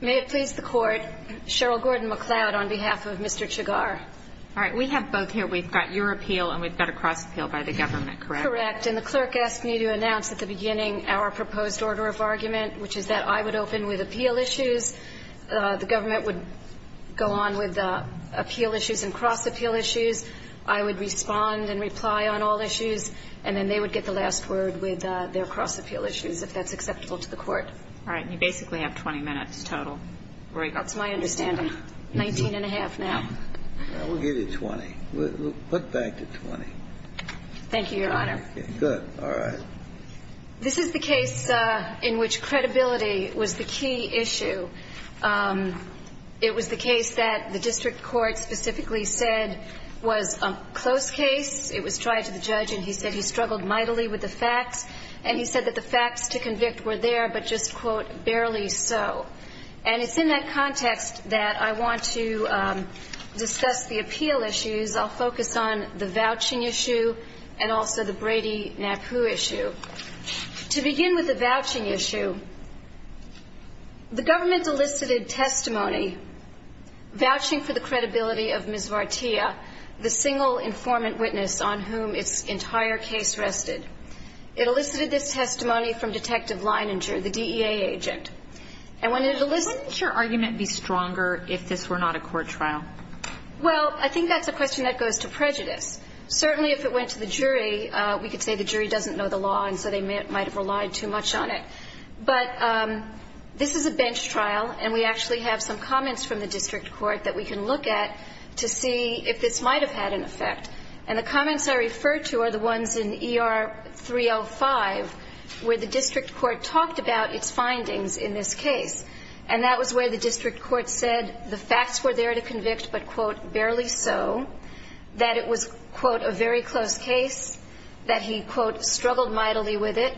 May it please the Court, Cheryl Gordon-McLeod on behalf of Mr. Chaggar. All right, we have both here. We've got your appeal and we've got a cross-appeal by the government, correct? Correct, and the clerk asked me to announce at the beginning our proposed order of argument, which is that I would open with appeal issues. The government would go on with appeal issues and cross-appeal issues. I would respond and reply on all issues, and then they would get the last word with their cross-appeal issues if that's acceptable to the Court. All right, and you basically have 20 minutes total. That's my understanding. Nineteen and a half now. We'll give you 20. We'll put back the 20. Thank you, Your Honor. Good. All right. This is the case in which credibility was the key issue. It was the case that the district court specifically said was a close case. And he said that the facts to convict were there, but just, quote, barely so. And it's in that context that I want to discuss the appeal issues. I'll focus on the vouching issue and also the Brady-Napoo issue. To begin with the vouching issue, the government's elicited testimony, vouching for the credibility of Ms. Vartiya, the single informant witness on whom its entire case rested. It elicited this testimony from Detective Leininger, the DEA agent. And when it elicited the testimony of Ms. Vartiya, the DEA agent, and when it elicited Wouldn't your argument be stronger if this were not a court trial? Well, I think that's a question that goes to prejudice. Certainly, if it went to the jury, we could say the jury doesn't know the law and so they might have relied too much on it. But this is a bench trial, and we actually have some comments from the district court that we can look at to see if this might have had an effect. And the comments I refer to are the ones in ER 305 where the district court talked about its findings in this case. And that was where the district court said the facts were there to convict but, quote, barely so, that it was, quote, a very close case, that he, quote, struggled mightily with it,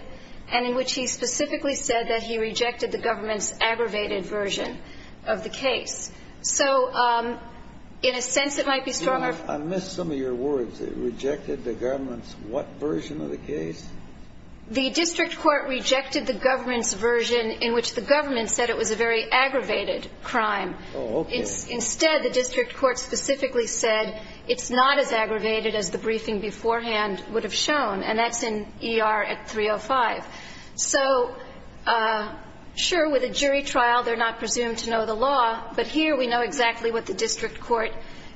and in which he specifically said that he rejected the government's aggravated version of the case. So in a sense it might be stronger I missed some of your words. It rejected the government's what version of the case? The district court rejected the government's version in which the government said it was a very aggravated crime. Oh, okay. Instead, the district court specifically said it's not as aggravated as the briefing beforehand would have shown. And that's in ER 305. So, sure, with a jury trial they're not presumed to know the law, but here we know exactly what the district court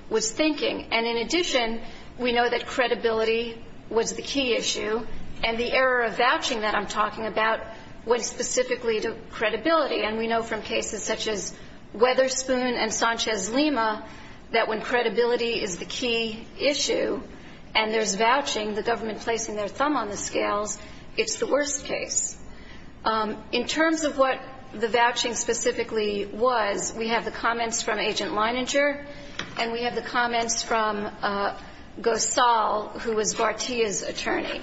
was thinking. And in addition, we know that credibility was the key issue, and the error of vouching that I'm talking about went specifically to credibility. And we know from cases such as Weatherspoon and Sanchez-Lima that when credibility is the key issue and there's vouching, the government placing their thumb on the scales, it's the worst case. In terms of what the vouching specifically was, we have the comments from Agent Leininger and we have the comments from Gosal, who was Vartiya's attorney.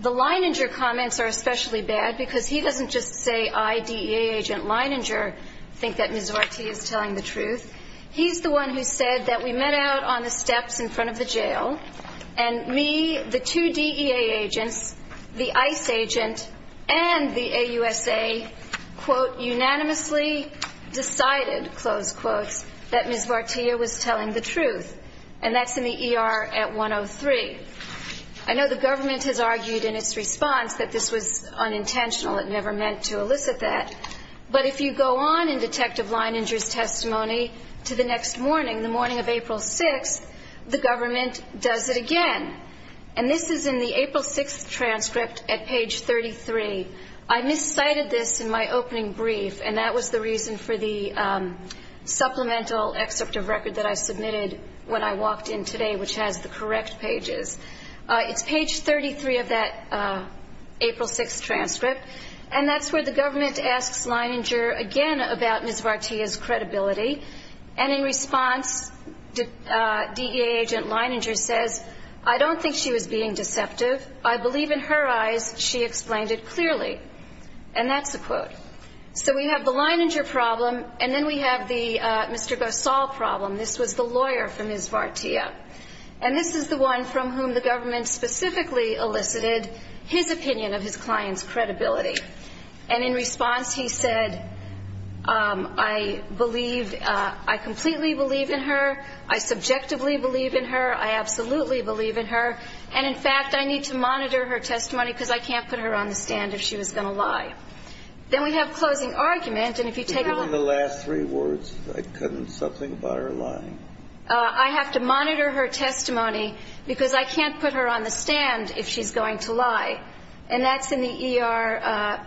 The Leininger comments are especially bad because he doesn't just say I, D, E, A, Agent Leininger, think that Ms. Vartiya is telling the truth. He's the one who said that we met out on the steps in front of the jail and me, the two DEA agents, the ICE agent, and the AUSA, quote, unanimously decided, close quotes, that Ms. Vartiya was telling the truth. And that's in the ER at 103. I know the government has argued in its response that this was unintentional. It never meant to elicit that. But if you go on in Detective Leininger's testimony to the next morning, the morning of April 6th, the government does it again. And this is in the April 6th transcript at page 33. I miscited this in my opening brief, and that was the reason for the supplemental excerpt of record that I submitted when I walked in today, which has the correct pages. It's page 33 of that April 6th transcript, and that's where the government asks Leininger again about Ms. Vartiya's credibility. And in response, DEA agent Leininger says, I don't think she was being deceptive. I believe in her eyes she explained it clearly. And that's a quote. So we have the Leininger problem, and then we have the Mr. Gosal problem. This was the lawyer for Ms. Vartiya. And this is the one from whom the government specifically elicited his opinion of his client's credibility. And in response, he said, I completely believe in her. I subjectively believe in her. I absolutely believe in her. And, in fact, I need to monitor her testimony because I can't put her on the stand if she was going to lie. Then we have closing argument. And if you take a look. I couldn't something about her lying. I have to monitor her testimony because I can't put her on the stand if she's going to lie. And that's in the ER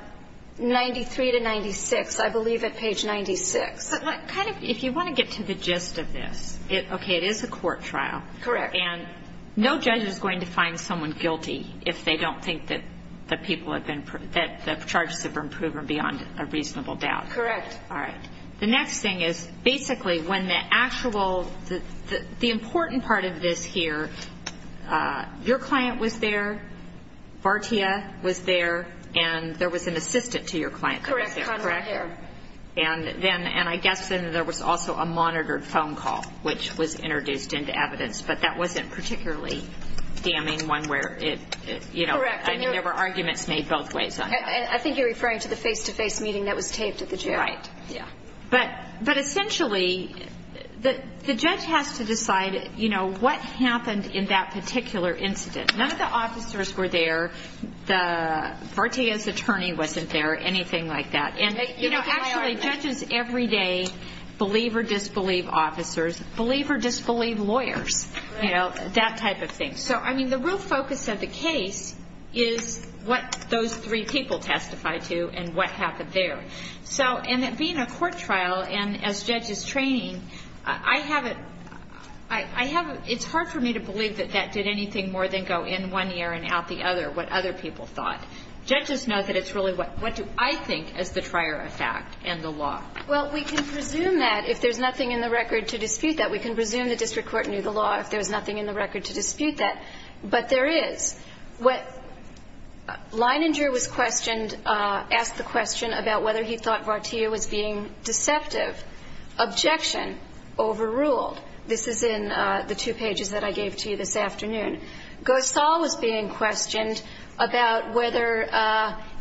93 to 96, I believe, at page 96. But kind of, if you want to get to the gist of this, okay, it is a court trial. Correct. And no judge is going to find someone guilty if they don't think that the people have been, that the charges have been proven beyond a reasonable doubt. Correct. All right. The next thing is, basically, when the actual, the important part of this here, your client was there, Vartiya was there, and there was an assistant to your client that was there, correct? Correct. And then, and I guess then there was also a monitored phone call, which was introduced into evidence. But that wasn't particularly damning one where it, you know, I mean, there were arguments made both ways. I think you're referring to the face-to-face meeting that was taped at the jail. Right. Yeah. But essentially, the judge has to decide, you know, what happened in that particular incident. None of the officers were there. Vartiya's attorney wasn't there, anything like that. And, you know, actually, judges every day believe or disbelieve officers, believe or disbelieve lawyers, you know, that type of thing. So, I mean, the real focus of the case is what those three people testified to and what happened there. So, and it being a court trial, and as judges training, I have a, I have a, it's hard for me to believe that that did anything more than go in one ear and out the other, what other people thought. Judges know that it's really what, what do I think is the trier of fact and the law. Well, we can presume that if there's nothing in the record to dispute that. We can presume the district court knew the law if there was nothing in the record to dispute that. But there is. What, Leininger was questioned, asked the question about whether he thought Vartiya was being deceptive. Objection, overruled. This is in the two pages that I gave to you this afternoon. Gosal was being questioned about whether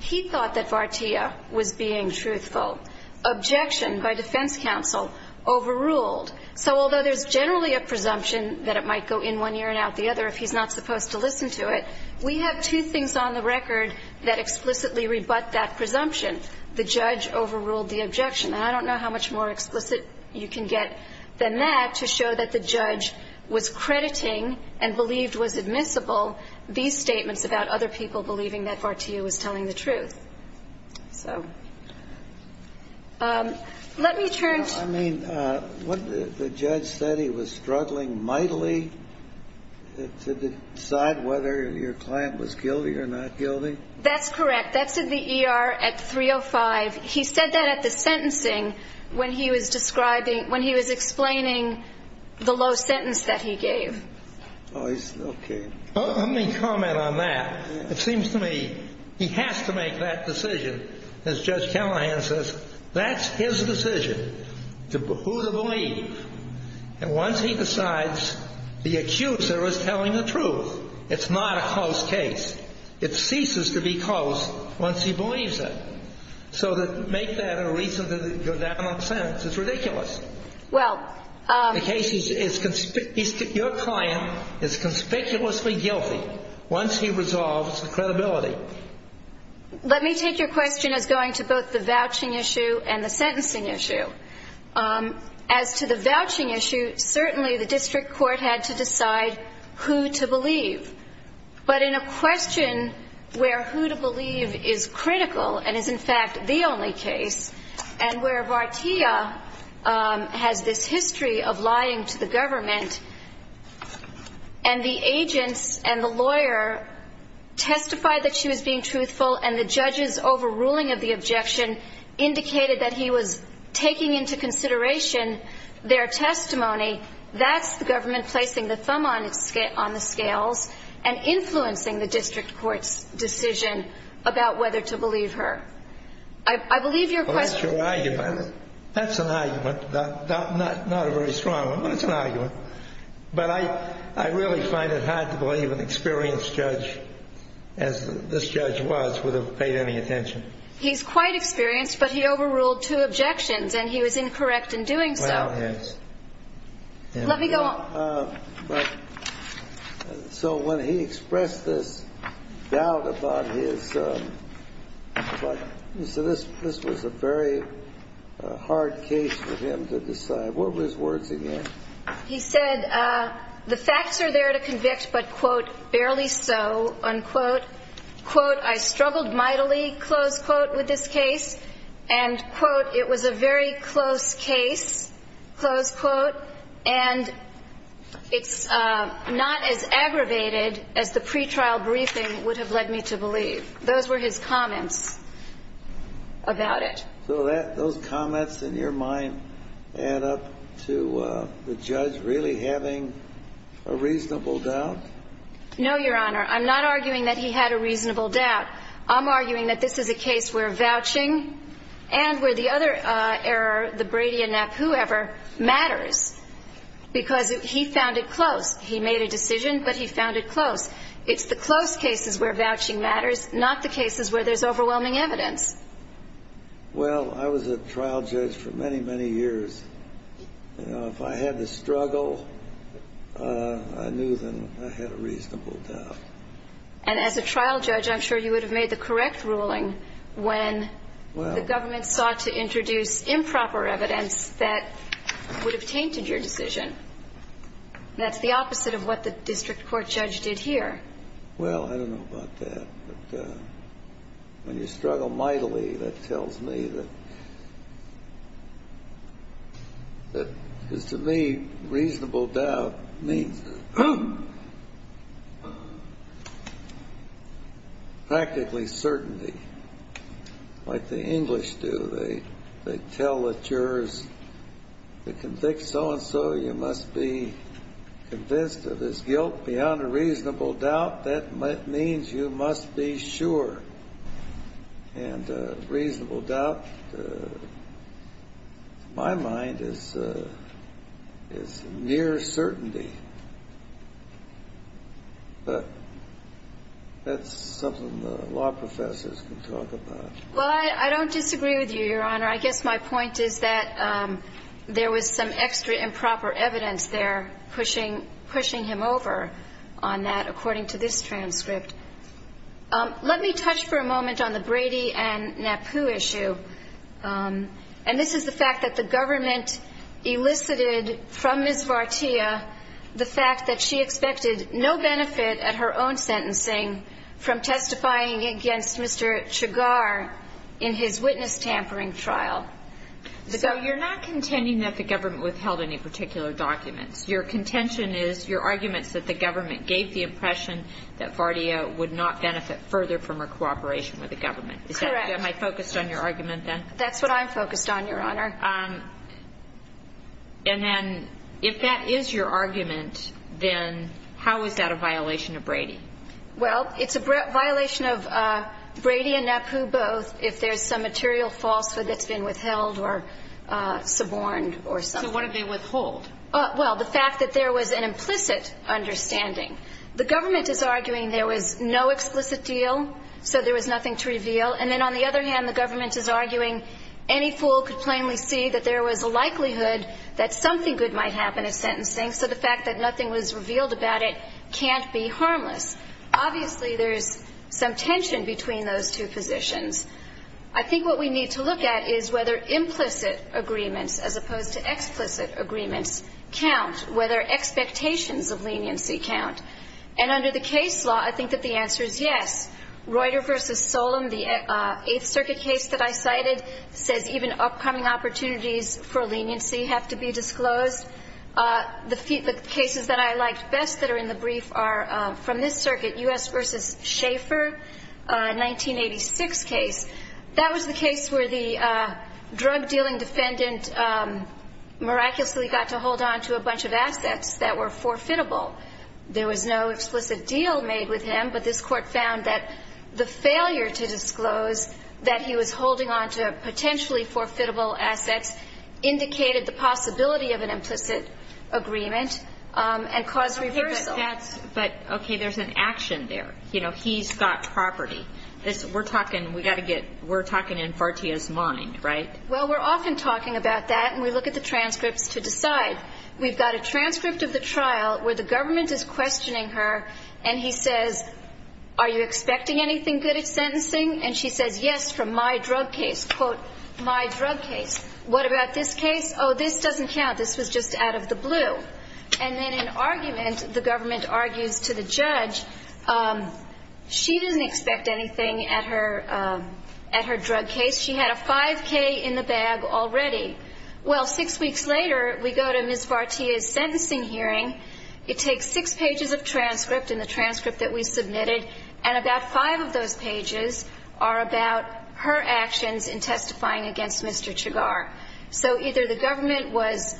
he thought that Vartiya was being truthful. Objection by defense counsel, overruled. So although there's generally a presumption that it might go in one ear and out the other if he's not supposed to listen to it, we have two things on the record that explicitly rebut that presumption. The judge overruled the objection. And I don't know how much more explicit you can get than that to show that the judge was crediting and believed was admissible these statements about other people believing that Vartiya was telling the truth. So let me turn to the case. The judge said he was struggling mightily to decide whether your client was guilty or not guilty? That's correct. That's in the ER at 305. He said that at the sentencing when he was describing, when he was explaining the low sentence that he gave. Oh, he still gave. Let me comment on that. It seems to me he has to make that decision, as Judge Callahan says. That's his decision, who to believe. And once he decides, the accuser is telling the truth. It's not a close case. It ceases to be close once he believes it. So make that a reason to go down on sentence. It's ridiculous. The case is your client is conspicuously guilty once he resolves the credibility. Let me take your question as going to both the vouching issue and the sentencing issue. As to the vouching issue, certainly the district court had to decide who to believe. But in a question where who to believe is critical and is, in fact, the only case, and where Vartiya has this history of lying to the government, and the agents and the lawyer testify that she was being truthful and the judge's overruling of the objection indicated that he was taking into consideration their testimony, that's the government placing the thumb on the scales and influencing the district court's decision about whether to believe her. I believe your question was the same. Well, that's your argument. That's an argument, not a very strong one, but it's an argument. But I really find it hard to believe an experienced judge, as this judge was, would have paid any attention. He's quite experienced, but he overruled two objections, and he was incorrect in doing so. Well, he is. Let me go on. So when he expressed this doubt about his, you said this was a very hard case for him to decide. What were his words again? He said the facts are there to convict, but, quote, barely so, unquote. Quote, I struggled mightily, close quote, with this case. And, quote, it was a very close case, close quote. And it's not as aggravated as the pretrial briefing would have led me to believe. Those were his comments about it. So those comments, in your mind, add up to the judge really having a reasonable doubt? No, Your Honor. I'm not arguing that he had a reasonable doubt. I'm arguing that this is a case where vouching and where the other error, the Brady and Knapp, whoever, matters, because he found it close. He made a decision, but he found it close. It's the close cases where vouching matters, not the cases where there's overwhelming evidence. Well, I was a trial judge for many, many years. You know, if I had to struggle, I knew then I had a reasonable doubt. And as a trial judge, I'm sure you would have made the correct ruling when the government sought to introduce improper evidence that would have tainted your decision. That's the opposite of what the district court judge did here. Well, I don't know about that. But when you struggle mightily, that tells me that, because to me, reasonable doubt means practically certainty like the English do. They tell the jurors, to convict so-and-so, you must be convinced of his guilt beyond a reasonable doubt. That means you must be sure. And reasonable doubt, to my mind, is near certainty. But that's something the law professors can talk about. Well, I don't disagree with you, Your Honor. I guess my point is that there was some extra improper evidence there pushing him over on that, according to this transcript. Let me touch for a moment on the Brady and Napu issue. And this is the fact that the government elicited from Ms. Vartiya the fact that she expected no benefit at her own sentencing from testifying against Mr. Chagar in his witness tampering trial. So you're not contending that the government withheld any particular documents. Your contention is your arguments that the government gave the impression that Vartiya would not benefit further from her cooperation with the government. Correct. Am I focused on your argument, then? That's what I'm focused on, Your Honor. And then if that is your argument, then how is that a violation of Brady? Well, it's a violation of Brady and Napu both if there's some material falsehood that's been withheld or suborned or something. So what did they withhold? Well, the fact that there was an implicit understanding. The government is arguing there was no explicit deal, so there was nothing to reveal. And then on the other hand, the government is arguing any fool could plainly see that there was a likelihood that something good might happen at sentencing, so the fact that nothing was revealed about it can't be harmless. Obviously, there is some tension between those two positions. I think what we need to look at is whether implicit agreements as opposed to explicit agreements count, whether expectations of leniency count. And under the case law, I think that the answer is yes. Reuter v. Solem, the Eighth Circuit case that I cited, says even upcoming opportunities for leniency have to be disclosed. The cases that I liked best that are in the brief are from this circuit, U.S. v. Schaeffer, a 1986 case. That was the case where the drug-dealing defendant miraculously got to hold on to a bunch of assets that were forfeitable. There was no explicit deal made with him, but this Court found that the failure to disclose that he was holding on to potentially forfeitable assets indicated the possibility of an implicit agreement and caused reversal. But, okay, there's an action there. You know, he's got property. We're talking in Fartia's mind, right? Well, we're often talking about that, and we look at the transcripts to decide. We've got a transcript of the trial where the government is questioning her, and he says, are you expecting anything good at sentencing? And she says, yes, from my drug case, quote, my drug case. What about this case? Oh, this doesn't count. This was just out of the blue. And then in argument, the government argues to the judge, she didn't expect anything at her drug case. She had a 5K in the bag already. Well, six weeks later, we go to Ms. Fartia's sentencing hearing. It takes six pages of transcript and the transcript that we submitted, and about five of those pages are about her actions in testifying against Mr. Chigar. So either the government was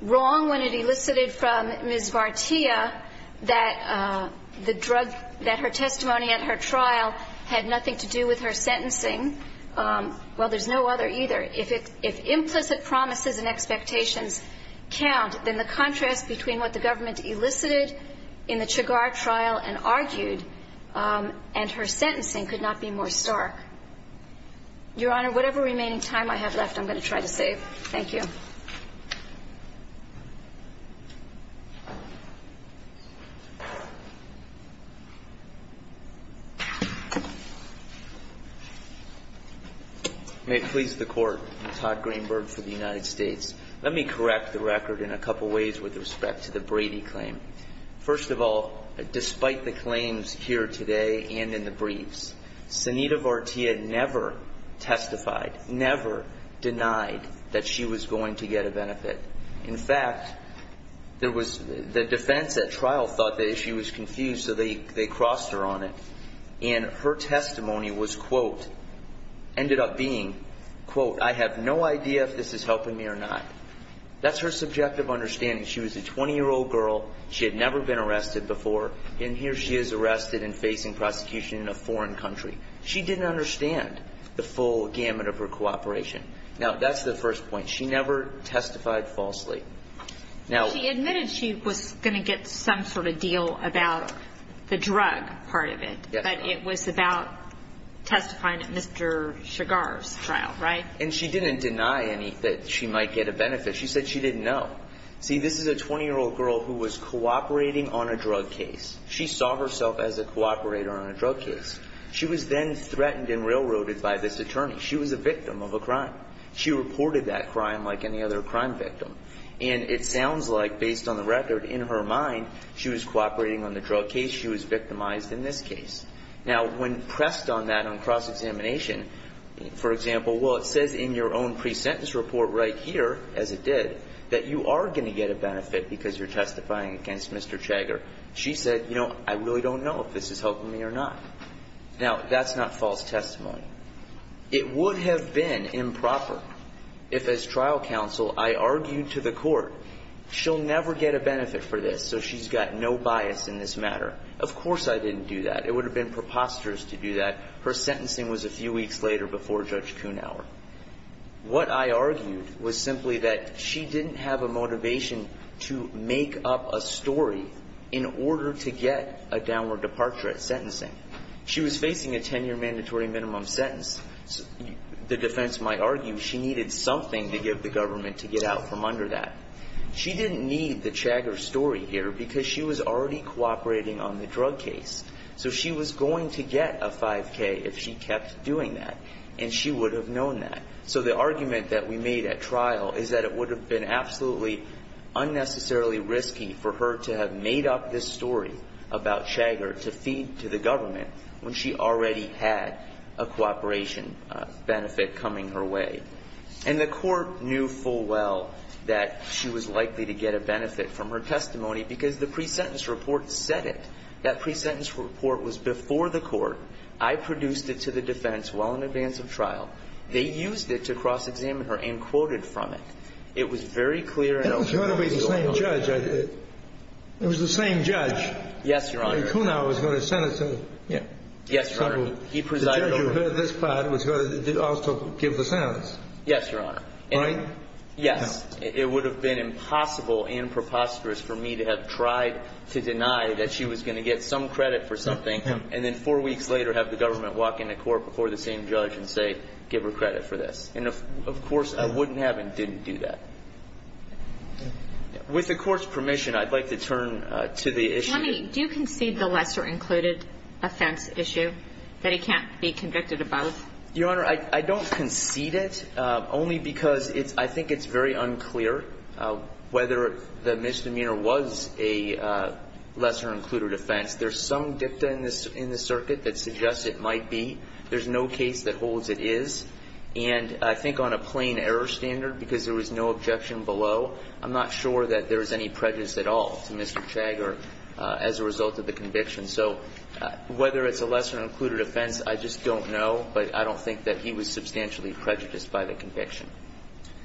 wrong when it elicited from Ms. Fartia that the drug, that her testimony at her trial had nothing to do with her sentencing. Well, there's no other either. If implicit promises and expectations count, then the contrast between what the government elicited in the Chigar trial and argued and her sentencing could not be more stark. Your Honor, whatever remaining time I have left, I'm going to try to save. Thank you. May it please the Court. I'm Todd Greenberg for the United States. Let me correct the record in a couple ways with respect to the Brady claim. First of all, despite the claims here today and in the briefs, Senita Fartia never testified, never denied that she was going to testify. In fact, there was the defense at trial thought the issue was confused, so they crossed her on it. And her testimony was, quote, ended up being, quote, I have no idea if this is helping me or not. That's her subjective understanding. She was a 20-year-old girl. She had never been arrested before, and here she is arrested and facing prosecution in a foreign country. She didn't understand the full gamut of her cooperation. Now, that's the first point. She never testified falsely. She admitted she was going to get some sort of deal about the drug part of it, but it was about testifying at Mr. Chigar's trial, right? And she didn't deny any that she might get a benefit. She said she didn't know. See, this is a 20-year-old girl who was cooperating on a drug case. She saw herself as a cooperator on a drug case. She was then threatened and railroaded by this attorney. She was a victim of a crime. She reported that crime like any other crime victim, and it sounds like, based on the record, in her mind, she was cooperating on the drug case. She was victimized in this case. Now, when pressed on that on cross-examination, for example, well, it says in your own pre-sentence report right here, as it did, that you are going to get a benefit because you're testifying against Mr. Chigar. She said, you know, I really don't know if this is helping me or not. Now, that's not false testimony. It would have been improper if, as trial counsel, I argued to the court, she'll never get a benefit for this, so she's got no bias in this matter. Of course I didn't do that. It would have been preposterous to do that. Her sentencing was a few weeks later before Judge Kuhnhauer. What I argued was simply that she didn't have a motivation to make up a story in order to get a downward departure at sentencing. She was facing a 10-year mandatory minimum sentence. The defense might argue she needed something to give the government to get out from under that. She didn't need the Chigar story here because she was already cooperating on the drug case. So she was going to get a 5K if she kept doing that, and she would have known that. So the argument that we made at trial is that it would have been absolutely unnecessarily risky for her to have made up this story about Chigar to feed to the government when she already had a cooperation benefit coming her way. And the court knew full well that she was likely to get a benefit from her testimony because the pre-sentence report said it. That pre-sentence report was before the court. I produced it to the defense well in advance of trial. They used it to cross-examine her and quoted from it. It was very clear and open to the law. It was going to be the same judge. It was the same judge. Yes, Your Honor. Yes, Your Honor. He presided over it. The judge who heard this part was going to also give the sentence. Yes, Your Honor. Right? Yes. It would have been impossible and preposterous for me to have tried to deny that she was going to get some credit for something and then four weeks later have the government walk into court before the same judge and say give her credit for this. And, of course, I wouldn't have and didn't do that. With the court's permission, I'd like to turn to the issue. Johnny, do you concede the lesser included offense issue that he can't be convicted above? Your Honor, I don't concede it only because I think it's very unclear whether the misdemeanor was a lesser included offense. There's some dicta in the circuit that suggests it might be. There's no case that holds it is. And I think on a plain error standard, because there was no objection below, I'm not sure that there was any prejudice at all to Mr. Chagger as a result of the conviction. So whether it's a lesser included offense, I just don't know, but I don't think that he was substantially prejudiced by the conviction.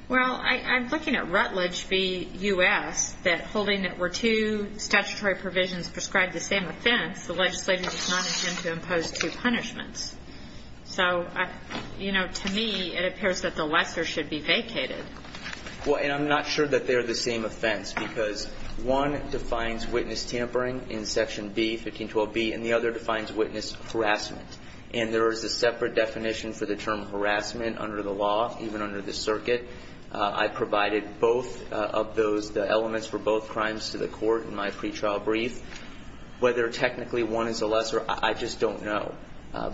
Well, I'm looking at Rutledge v. U.S. that holding it were two statutory provisions prescribed the same offense, the legislature does not intend to impose two punishments. So, you know, to me it appears that the lesser should be vacated. Well, and I'm not sure that they're the same offense because one defines witness tampering in Section B, 1512B, and the other defines witness harassment. And there is a separate definition for the term harassment under the law, even under the circuit. I provided both of those elements for both crimes to the court in my pretrial brief. Whether technically one is a lesser, I just don't know.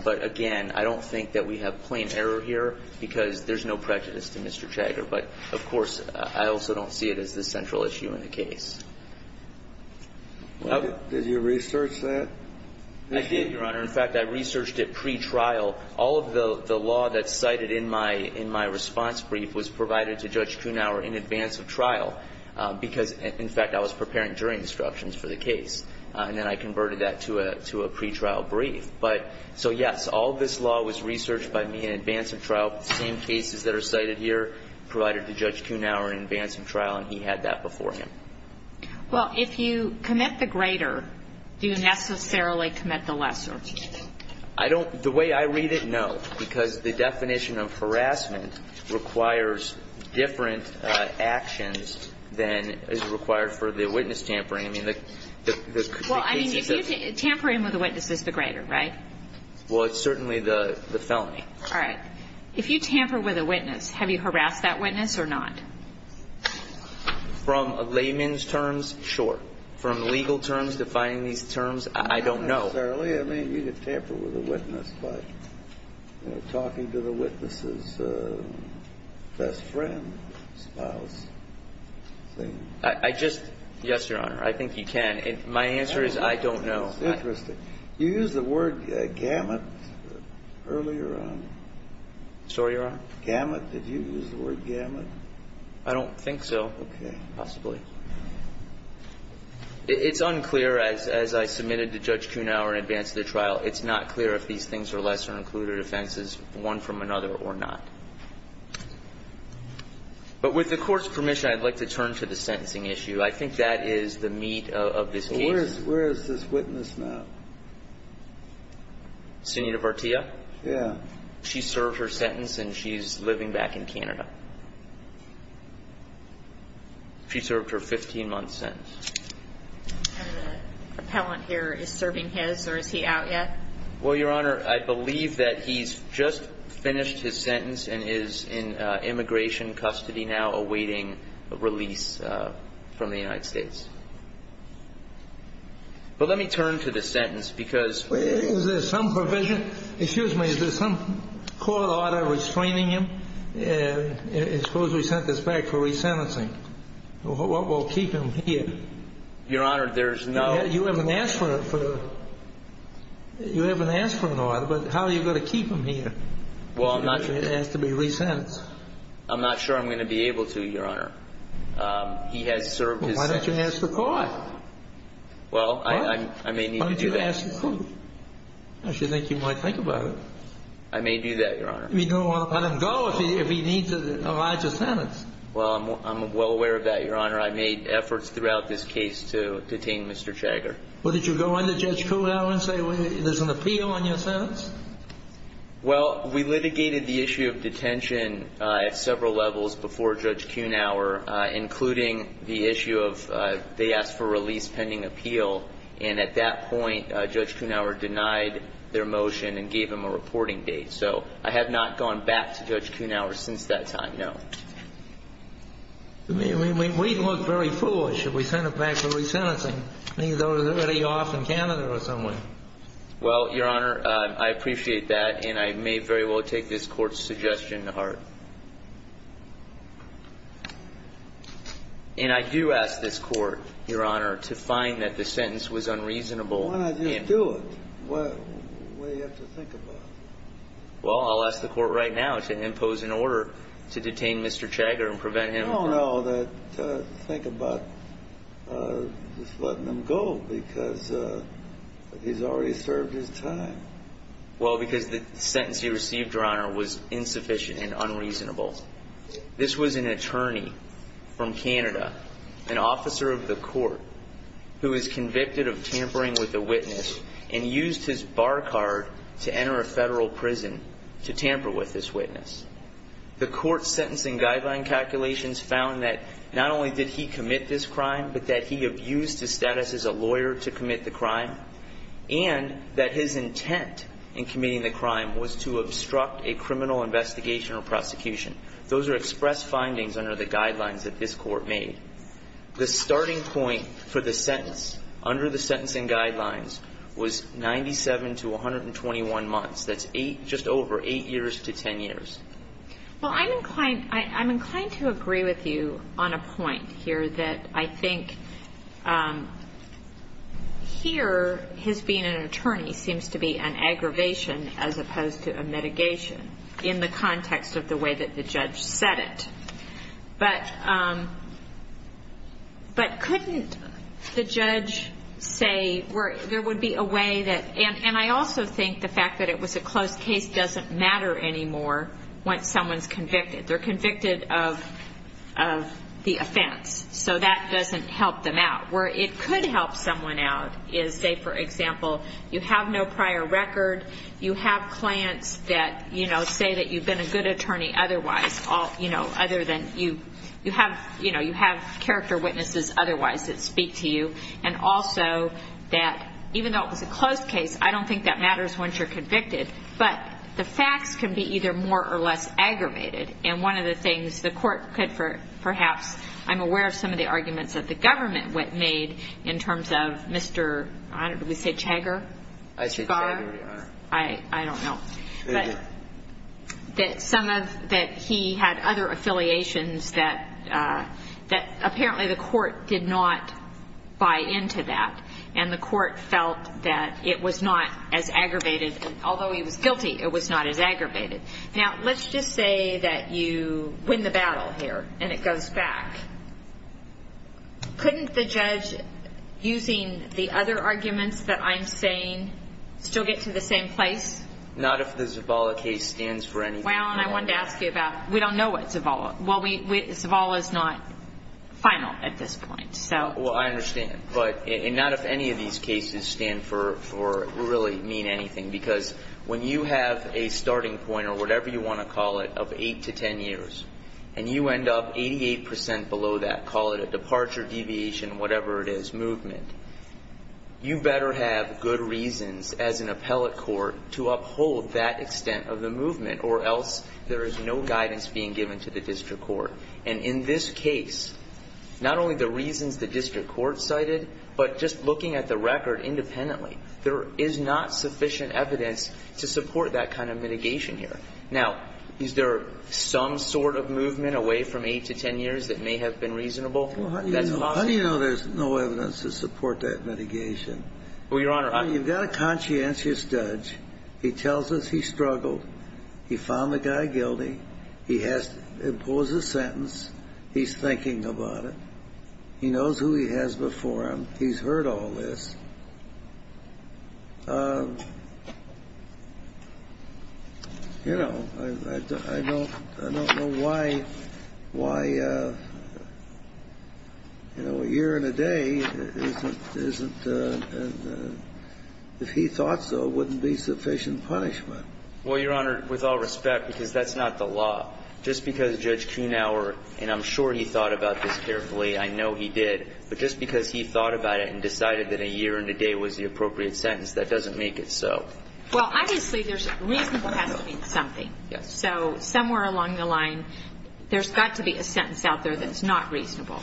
But, again, I don't think that we have plain error here because there's no prejudice to Mr. Chagger. But, of course, I also don't see it as the central issue in the case. Did you research that? I did, Your Honor. In fact, I researched it pretrial. All of the law that's cited in my response brief was provided to Judge Kuenhauer in advance of trial because, in fact, I was preparing jury instructions for the case. And then I converted that to a pretrial brief. So, yes, all of this law was researched by me in advance of trial. The same cases that are cited here provided to Judge Kuenhauer in advance of trial, and he had that before him. Well, if you commit the greater, do you necessarily commit the lesser? I don't – the way I read it, no, because the definition of harassment requires different actions than is required for the witness tampering. Well, I mean, tampering with a witness is the greater, right? Well, it's certainly the felony. All right. If you tamper with a witness, have you harassed that witness or not? From a layman's terms, sure. From legal terms, defining these terms, I don't know. Not necessarily. I mean, you could tamper with a witness by talking to the witness's best friend, spouse. I just – yes, Your Honor. I think you can. My answer is I don't know. Interesting. You used the word gamut earlier on. Sorry, Your Honor? Gamut. Did you use the word gamut? I don't think so. Okay. Possibly. It's unclear, as I submitted to Judge Kuenhauer in advance of the trial, it's not clear if these things are lesser-included offenses, one from another or not. But with the Court's permission, I'd like to turn to the sentencing issue. I think that is the meat of this case. Where is this witness now? Sen. Vartiya? Yeah. She served her sentence, and she's living back in Canada. She served her 15-month sentence. And the appellant here is serving his, or is he out yet? Well, Your Honor, I believe that he's just finished his sentence and is in immigration custody now, awaiting release from the United States. But let me turn to the sentence because – Is there some provision – excuse me. Is there some court order restraining him? Suppose we sent this back for resentencing. What will keep him here? Your Honor, there's no – You haven't asked for an order, but how are you going to keep him here? Well, I'm not – If he has to be resentenced. I'm not sure I'm going to be able to, Your Honor. He has served his sentence. Why don't you ask the court? Well, I may need to do that. Why don't you ask the court? I should think you might think about it. I may do that, Your Honor. You don't want to let him go if he needs a larger sentence. Well, I'm well aware of that, Your Honor. I made efforts throughout this case to detain Mr. Chagger. Well, did you go into Judge Kuhnhauer and say there's an appeal on your sentence? Well, we litigated the issue of detention at several levels before Judge Kuhnhauer, including the issue of they asked for release pending appeal. And at that point, Judge Kuhnhauer denied their motion and gave him a reporting date. So I have not gone back to Judge Kuhnhauer since that time, no. We look very foolish. Should we send him back for resentencing? I think he's already off in Canada or somewhere. Well, Your Honor, I appreciate that, and I may very well take this court's suggestion to heart. And I do ask this court, Your Honor, to find that the sentence was unreasonable. Why not just do it? What do you have to think about? Well, I'll ask the court right now to impose an order to detain Mr. Chagger and prevent him from No, no, think about just letting him go because he's already served his time. Well, because the sentence he received, Your Honor, was insufficient and unreasonable. This was an attorney from Canada, an officer of the court, who is convicted of tampering with a witness and used his bar card to enter a federal prison to tamper with this witness. The court's sentencing guideline calculations found that not only did he commit this crime, but that he abused his status as a lawyer to commit the crime, and that his intent in committing the crime was to obstruct a criminal investigation or prosecution. Those are express findings under the guidelines that this court made. The starting point for the sentence under the sentencing guidelines was 97 to 121 months. That's just over 8 years to 10 years. Well, I'm inclined to agree with you on a point here that I think here, his being an attorney seems to be an aggravation as opposed to a mitigation in the context of the way that the judge said it. But couldn't the judge say there would be a way that – and I also think the fact that it was a closed case doesn't matter anymore once someone's convicted. They're convicted of the offense, so that doesn't help them out. Where it could help someone out is, say, for example, you have no prior record, you have clients that say that you've been a good attorney otherwise, other than you have character witnesses otherwise that speak to you, and also that even though it was a closed case, I don't think that matters once you're convicted. But the facts can be either more or less aggravated, and one of the things the court could perhaps – I'm aware of some of the arguments that the government made in terms of Mr. – I don't know, did we say Chagger? I said Chagger, Your Honor. I don't know. But some of – that he had other affiliations that apparently the court did not buy into that, and the court felt that it was not as aggravated. Although he was guilty, it was not as aggravated. Now, let's just say that you win the battle here and it goes back. Couldn't the judge, using the other arguments that I'm saying, still get to the same place? Not if the Zavala case stands for anything. Well, and I wanted to ask you about – we don't know what Zavala – well, Zavala is not final at this point, so. Well, I understand. But not if any of these cases stand for – really mean anything, because when you have a starting point or whatever you want to call it of 8 to 10 years, and you end up 88 percent below that, call it a departure, deviation, whatever it is, movement, you better have good reasons as an appellate court to uphold that extent of the movement, or else there is no guidance being given to the district court. And in this case, not only the reasons the district court cited, but just looking at the record independently, there is not sufficient evidence to support that kind of mitigation here. Now, is there some sort of movement away from 8 to 10 years that may have been reasonable? That's possible. How do you know there's no evidence to support that mitigation? Well, Your Honor, I'm – You've got a conscientious judge. He tells us he struggled. He found the guy guilty. He has to impose a sentence. He's thinking about it. He knows who he has before him. He's heard all this. You know, I don't know why a year and a day isn't – if he thought so, wouldn't be sufficient punishment. Well, Your Honor, with all respect, because that's not the law. Just because Judge Kunauer – and I'm sure he thought about this carefully. I know he did. But just because he thought about it and decided that a year and a day was the appropriate sentence, that doesn't make it so. Well, obviously, there's – reasonable has to mean something. Yes. So somewhere along the line, there's got to be a sentence out there that's not reasonable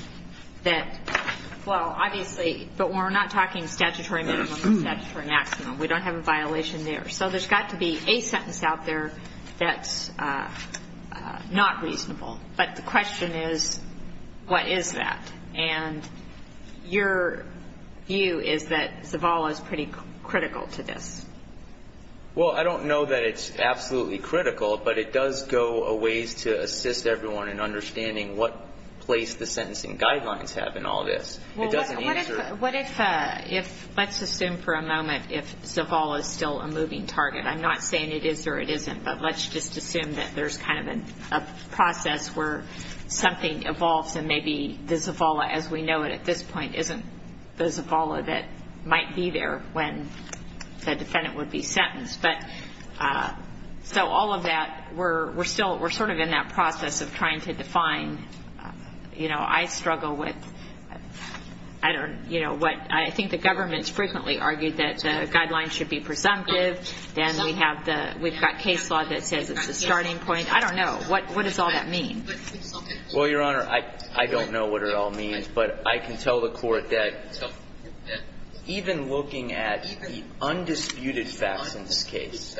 that – well, obviously, but we're not talking statutory minimum and statutory maximum. We don't have a violation there. So there's got to be a sentence out there that's not reasonable. But the question is, what is that? And your view is that Zavala is pretty critical to this. Well, I don't know that it's absolutely critical, but it does go a ways to assist everyone in understanding what place the sentencing guidelines have in all this. It doesn't answer – Well, what if – let's assume for a moment if Zavala is still a moving target. I'm not saying it is or it isn't, but let's just assume that there's kind of a process where something evolves and maybe the Zavala, as we know it at this point, isn't the Zavala that might be there when the defendant would be sentenced. But – so all of that, we're still – we're sort of in that process of trying to define. You know, I struggle with – I don't – you know, what – I think the government's frequently argued that the guidelines should be presumptive. Then we have the – we've got case law that says it's a starting point. I don't know. What does all that mean? Well, Your Honor, I don't know what it all means. But I can tell the Court that even looking at the undisputed facts in this case,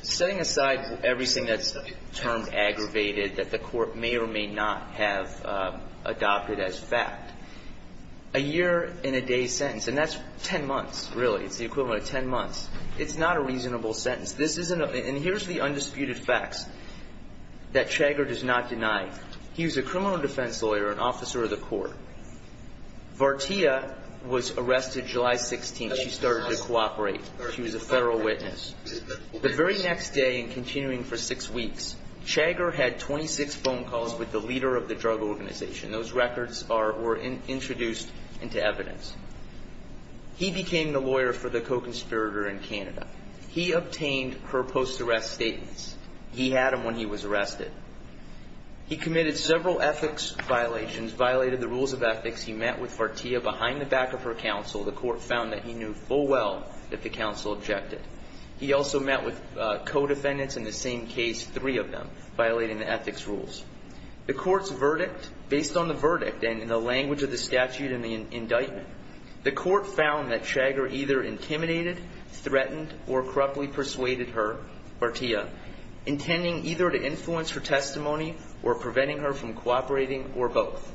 setting aside everything that's termed aggravated that the Court may or may not have adopted as fact, a year-in-a-day sentence – and that's 10 months, really. It's the equivalent of 10 months. It's not a reasonable sentence. This isn't – and here's the undisputed facts that Chagger does not deny. He was a criminal defense lawyer, an officer of the court. Vartiya was arrested July 16th. She started to cooperate. She was a federal witness. The very next day and continuing for six weeks, Chagger had 26 phone calls with the leader of the drug organization. Those records are – were introduced into evidence. He became the lawyer for the co-conspirator in Canada. He obtained her post-arrest statements. He had them when he was arrested. He committed several ethics violations, violated the rules of ethics. He met with Vartiya behind the back of her counsel. The Court found that he knew full well that the counsel objected. He also met with co-defendants in the same case, three of them, violating the ethics rules. The Court's verdict, based on the verdict and in the language of the statute in the indictment, the Court found that Chagger either intimidated, threatened, or corruptly persuaded her, Vartiya, intending either to influence her testimony or preventing her from cooperating or both.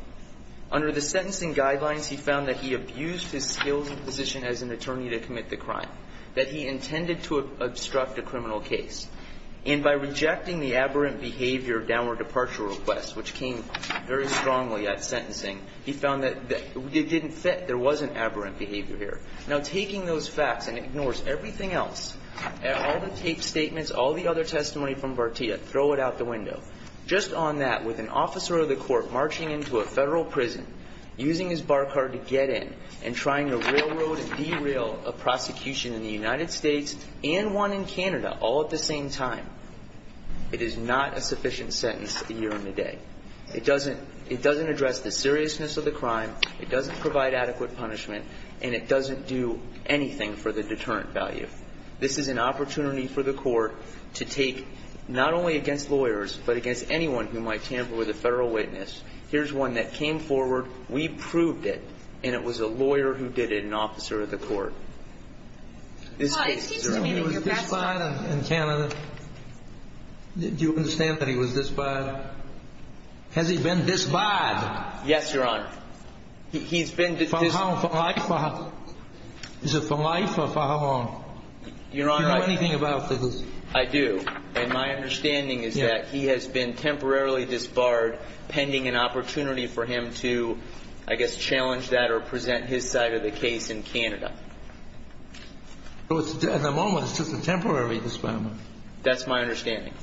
Under the sentencing guidelines, he found that he abused his skills and position as an attorney to commit the crime, that he intended to obstruct a criminal case. And by rejecting the aberrant behavior downward departure request, which came very strongly at sentencing, he found that it didn't fit. There wasn't aberrant behavior here. Now, taking those facts and ignores everything else, all the taped statements, all the other testimony from Vartiya, throw it out the window. Just on that, with an officer of the Court marching into a federal prison, using his bar card to get in and trying to railroad and derail a prosecution in the United States and one in Canada all at the same time, it is not a sufficient sentence a year and a day. It doesn't address the seriousness of the crime, it doesn't provide adequate punishment, and it doesn't do anything for the deterrent value. This is an opportunity for the Court to take not only against lawyers, but against anyone who might tamper with a federal witness. Here's one that came forward, we proved it, and it was a lawyer who did it and an officer of the Court. This case, Your Honor. He was disbarred in Canada. Do you understand that he was disbarred? Has he been disbarred? Yes, Your Honor. He's been disbarred. For how long? Is it for life or for how long? Your Honor. Do you know anything about this? I do. And my understanding is that he has been temporarily disbarred pending an opportunity for him to, I guess, challenge that or present his side of the case in Canada. At the moment, it's just a temporary disbarment. That's my understanding.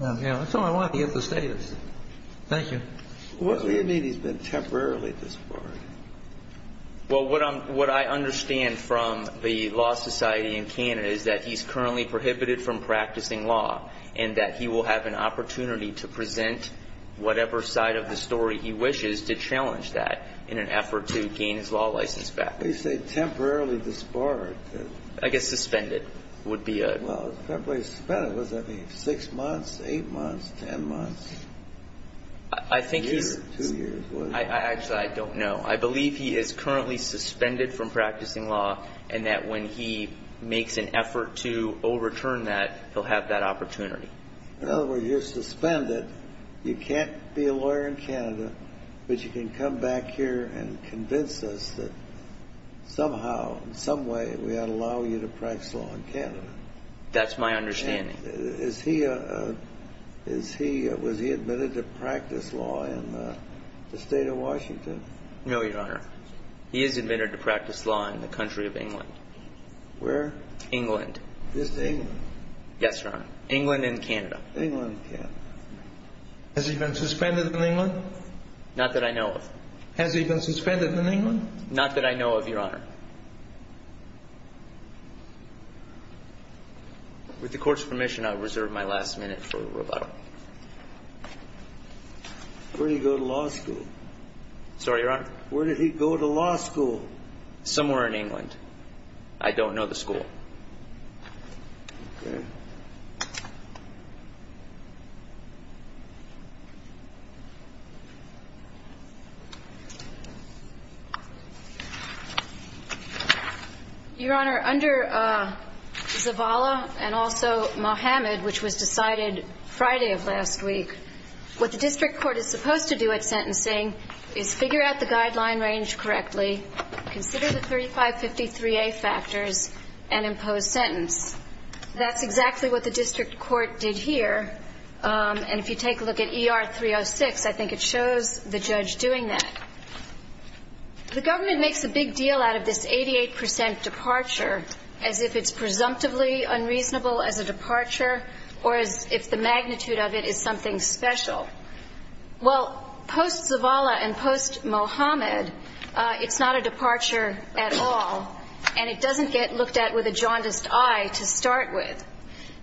That's all I want to get the status. Thank you. What do you mean he's been temporarily disbarred? Well, what I understand from the Law Society in Canada is that he's currently prohibited from practicing law and that he will have an opportunity to present whatever side of the story he wishes to challenge that in an effort to gain his law license back. You say temporarily disbarred. I guess suspended would be a ---- Well, temporarily suspended, what does that mean? Six months, eight months, ten months? I think he's ---- A year, two years. Actually, I don't know. I believe he is currently suspended from practicing law and that when he makes an effort to overturn that, he'll have that opportunity. In other words, you're suspended. You can't be a lawyer in Canada, but you can come back here and convince us that somehow, in some way, we ought to allow you to practice law in Canada. That's my understanding. Was he admitted to practice law in the state of Washington? No, Your Honor. He is admitted to practice law in the country of England. Where? England. Just England? Yes, Your Honor. England and Canada. England and Canada. Has he been suspended in England? Not that I know of. Has he been suspended in England? Not that I know of, Your Honor. With the Court's permission, I'll reserve my last minute for rebuttal. Where did he go to law school? Sorry, Your Honor? Where did he go to law school? Somewhere in England. I don't know the school. Okay. Your Honor, under Zavala and also Mohamed, which was decided Friday of last week, what the district court is supposed to do at sentencing is figure out the guideline range correctly, consider the 3553A factors, and impose sentence. That's exactly what the district court did here. And if you take a look at ER 306, I think it shows the judge doing that. The government makes a big deal out of this 88 percent departure as if it's presumptively unreasonable as a departure or as if the magnitude of it is something special. Well, post-Zavala and post-Mohamed, it's not a departure at all, and it doesn't get looked at with a jaundiced eye to start with.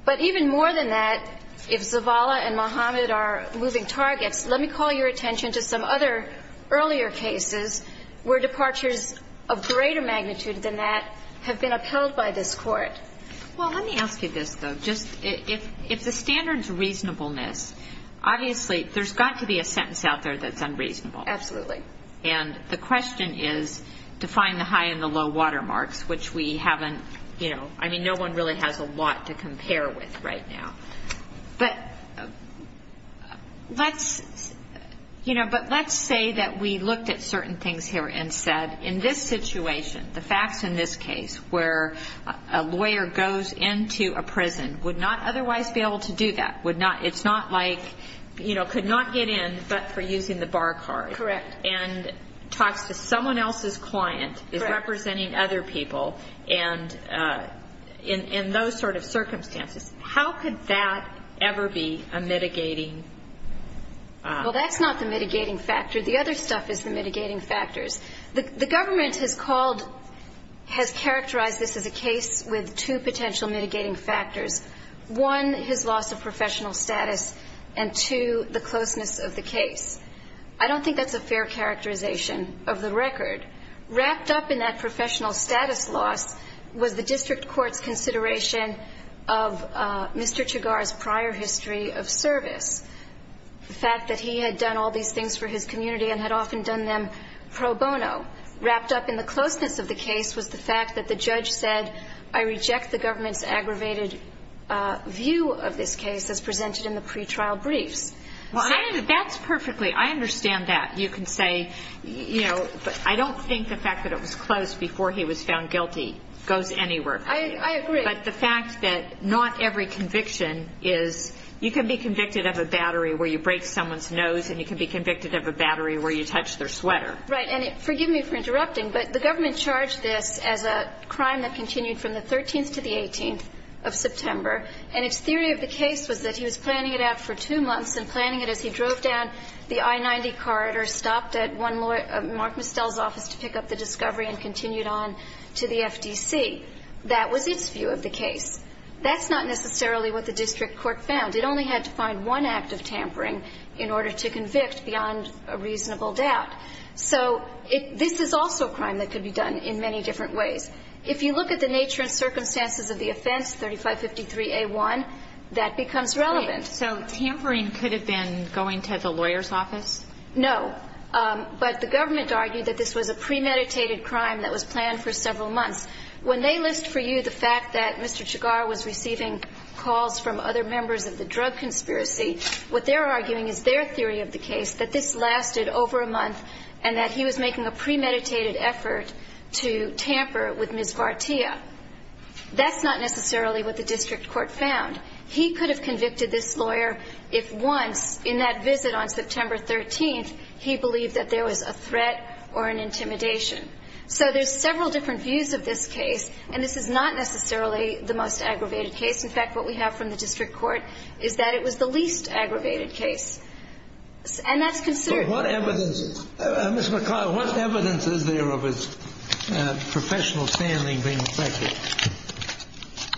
But even more than that, if Zavala and Mohamed are moving targets, let me call your attention to some other earlier cases where departures of greater magnitude than that have been upheld by this court. Well, let me ask you this, though. If the standard is reasonableness, obviously there's got to be a sentence out there that's unreasonable. Absolutely. And the question is to find the high and the low watermarks, which we haven't, you know, I mean, no one really has a lot to compare with right now. But let's say that we looked at certain things here and said, in this situation, the facts in this case where a lawyer goes into a prison would not otherwise be able to do that, would not, it's not like, you know, could not get in but for using the bar card. Correct. And talks to someone else's client, is representing other people, and in those sort of circumstances, how could that ever be a mitigating? Well, that's not the mitigating factor. The other stuff is the mitigating factors. The government has called, has characterized this as a case with two potential mitigating factors. One, his loss of professional status, and two, the closeness of the case. I don't think that's a fair characterization of the record. Wrapped up in that professional status loss was the district court's consideration of Mr. Chigar's prior history of service. The fact that he had done all these things for his community and had often done them pro bono. Wrapped up in the closeness of the case was the fact that the judge said, I reject the government's aggravated view of this case as presented in the pretrial briefs. Well, that's perfectly, I understand that. You can say, you know, I don't think the fact that it was closed before he was found guilty goes anywhere. I agree. But the fact that not every conviction is, you can be convicted of a battery where you break someone's nose and you can be convicted of a battery where you touch their sweater. Right. And forgive me for interrupting, but the government charged this as a crime that continued from the 13th to the 18th of September. And its theory of the case was that he was planning it out for two months and planning it as he drove down the I-90 corridor, stopped at one of Mark Mistel's offices to pick up the discovery and continued on to the FDC. That was its view of the case. That's not necessarily what the district court found. It only had to find one act of tampering in order to convict beyond a reasonable doubt. So this is also a crime that could be done in many different ways. If you look at the nature and circumstances of the offense, 3553A1, that becomes relevant. So tampering could have been going to the lawyer's office? No. But the government argued that this was a premeditated crime that was planned for several months. When they list for you the fact that Mr. Chigar was receiving calls from other members of the drug conspiracy, what they're arguing is their theory of the case, that this lasted over a month and that he was making a premeditated effort to tamper with Ms. Vartiya. That's not necessarily what the district court found. He could have convicted this lawyer if once in that visit on September 13th he believed that there was a threat or an intimidation. So there's several different views of this case. And this is not necessarily the most aggravated case. In fact, what we have from the district court is that it was the least aggravated case. And that's considered. But what evidence, Ms. McLeod, what evidence is there of his professional standing being affected?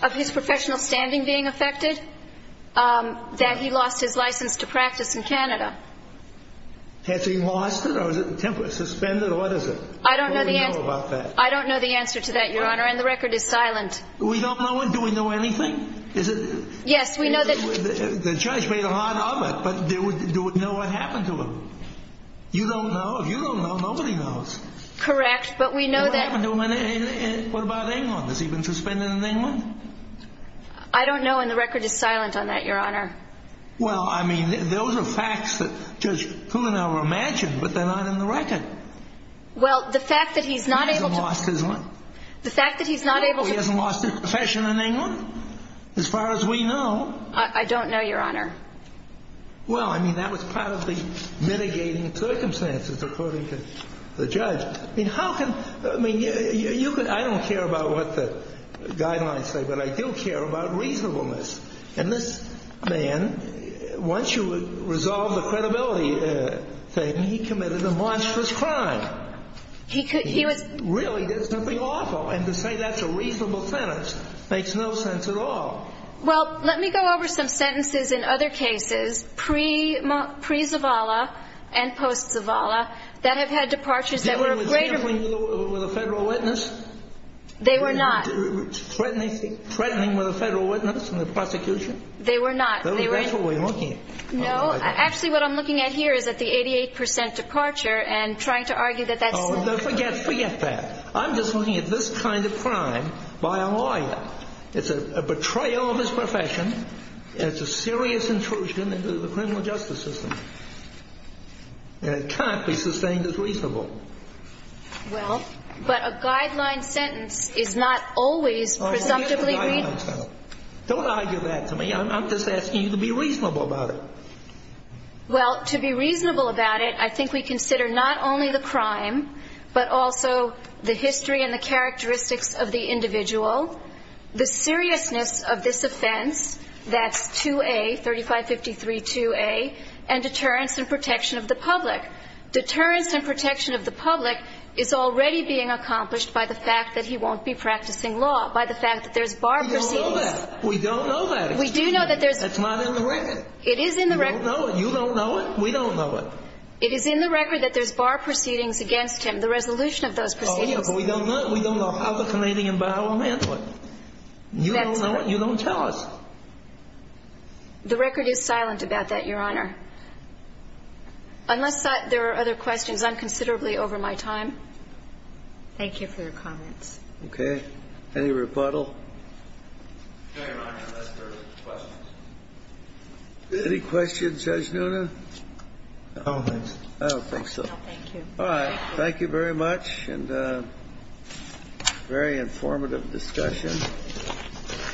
Of his professional standing being affected? That he lost his license to practice in Canada. Has he lost it or is it temporarily suspended or what is it? I don't know the answer to that, Your Honor, and the record is silent. We don't know? Do we know anything? Yes, we know that. The judge made a lot of it, but do we know what happened to him? You don't know? If you don't know, nobody knows. Correct, but we know that. What about England? Has he been suspended in England? I don't know, and the record is silent on that, Your Honor. Well, I mean, those are facts that Judge Kuhn and I were imagining, but they're not in the record. Well, the fact that he's not able to. He hasn't lost his what? The fact that he's not able to. He hasn't lost his profession in England, as far as we know. I don't know, Your Honor. Well, I mean, that was part of the mitigating circumstances, according to the judge. I mean, how can, I mean, you could, I don't care about what the guidelines say, but I do care about reasonableness. And this man, once you resolve the credibility thing, he committed a monstrous crime. He could, he was. He really did something awful, and to say that's a reasonable sentence makes no sense at all. Well, let me go over some sentences in other cases, pre-Zavala and post-Zavala, that have had departures that were of greater. He was handling with a federal witness? They were not. Threatening with a federal witness in the prosecution? They were not. That's what we're looking at. No, actually, what I'm looking at here is at the 88 percent departure and trying to argue that that's. Oh, forget that. I'm just looking at this kind of crime by a lawyer. It's a betrayal of his profession. It's a serious intrusion into the criminal justice system. And it can't be sustained as reasonable. Well, but a guideline sentence is not always presumptively reasonable. Don't argue that to me. I'm just asking you to be reasonable about it. Well, to be reasonable about it, I think we consider not only the crime, but also the history and the characteristics of the individual, the seriousness of this offense, that's 2A, 3553-2A, and deterrence and protection of the public. Deterrence and protection of the public is already being accomplished by the fact that he won't be practicing law, by the fact that there's bar proceedings. We don't know that. We do know that there's. That's not in the record. It is in the record. You don't know it. You don't know it. We don't know it. It is in the record that there's bar proceedings against him, the resolution of those proceedings. Oh, yeah, but we don't know. We don't know how the Canadian bio will handle it. You don't know it. You don't tell us. The record is silent about that, Your Honor. Unless there are other questions, I'm considerably over my time. Thank you for your comments. Okay. Any rebuttal? No, Your Honor, unless there are questions. Any questions, Judge Nuna? No, thanks. I don't think so. No, thank you. All right. Thank you very much, and very informative discussion.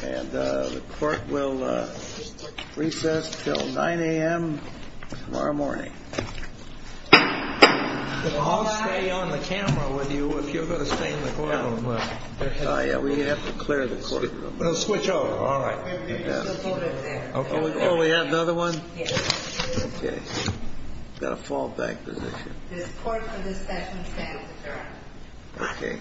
And the court will recess until 9 a.m. tomorrow morning. I'll stay on the camera with you if you're going to stay in the courtroom. Oh, yeah, we have to clear the courtroom. We'll switch over. All right. Oh, we have another one? Yes. Okay. We've got a fallback position. The court for this session stands adjourned. Okay. Thank you. Thank you.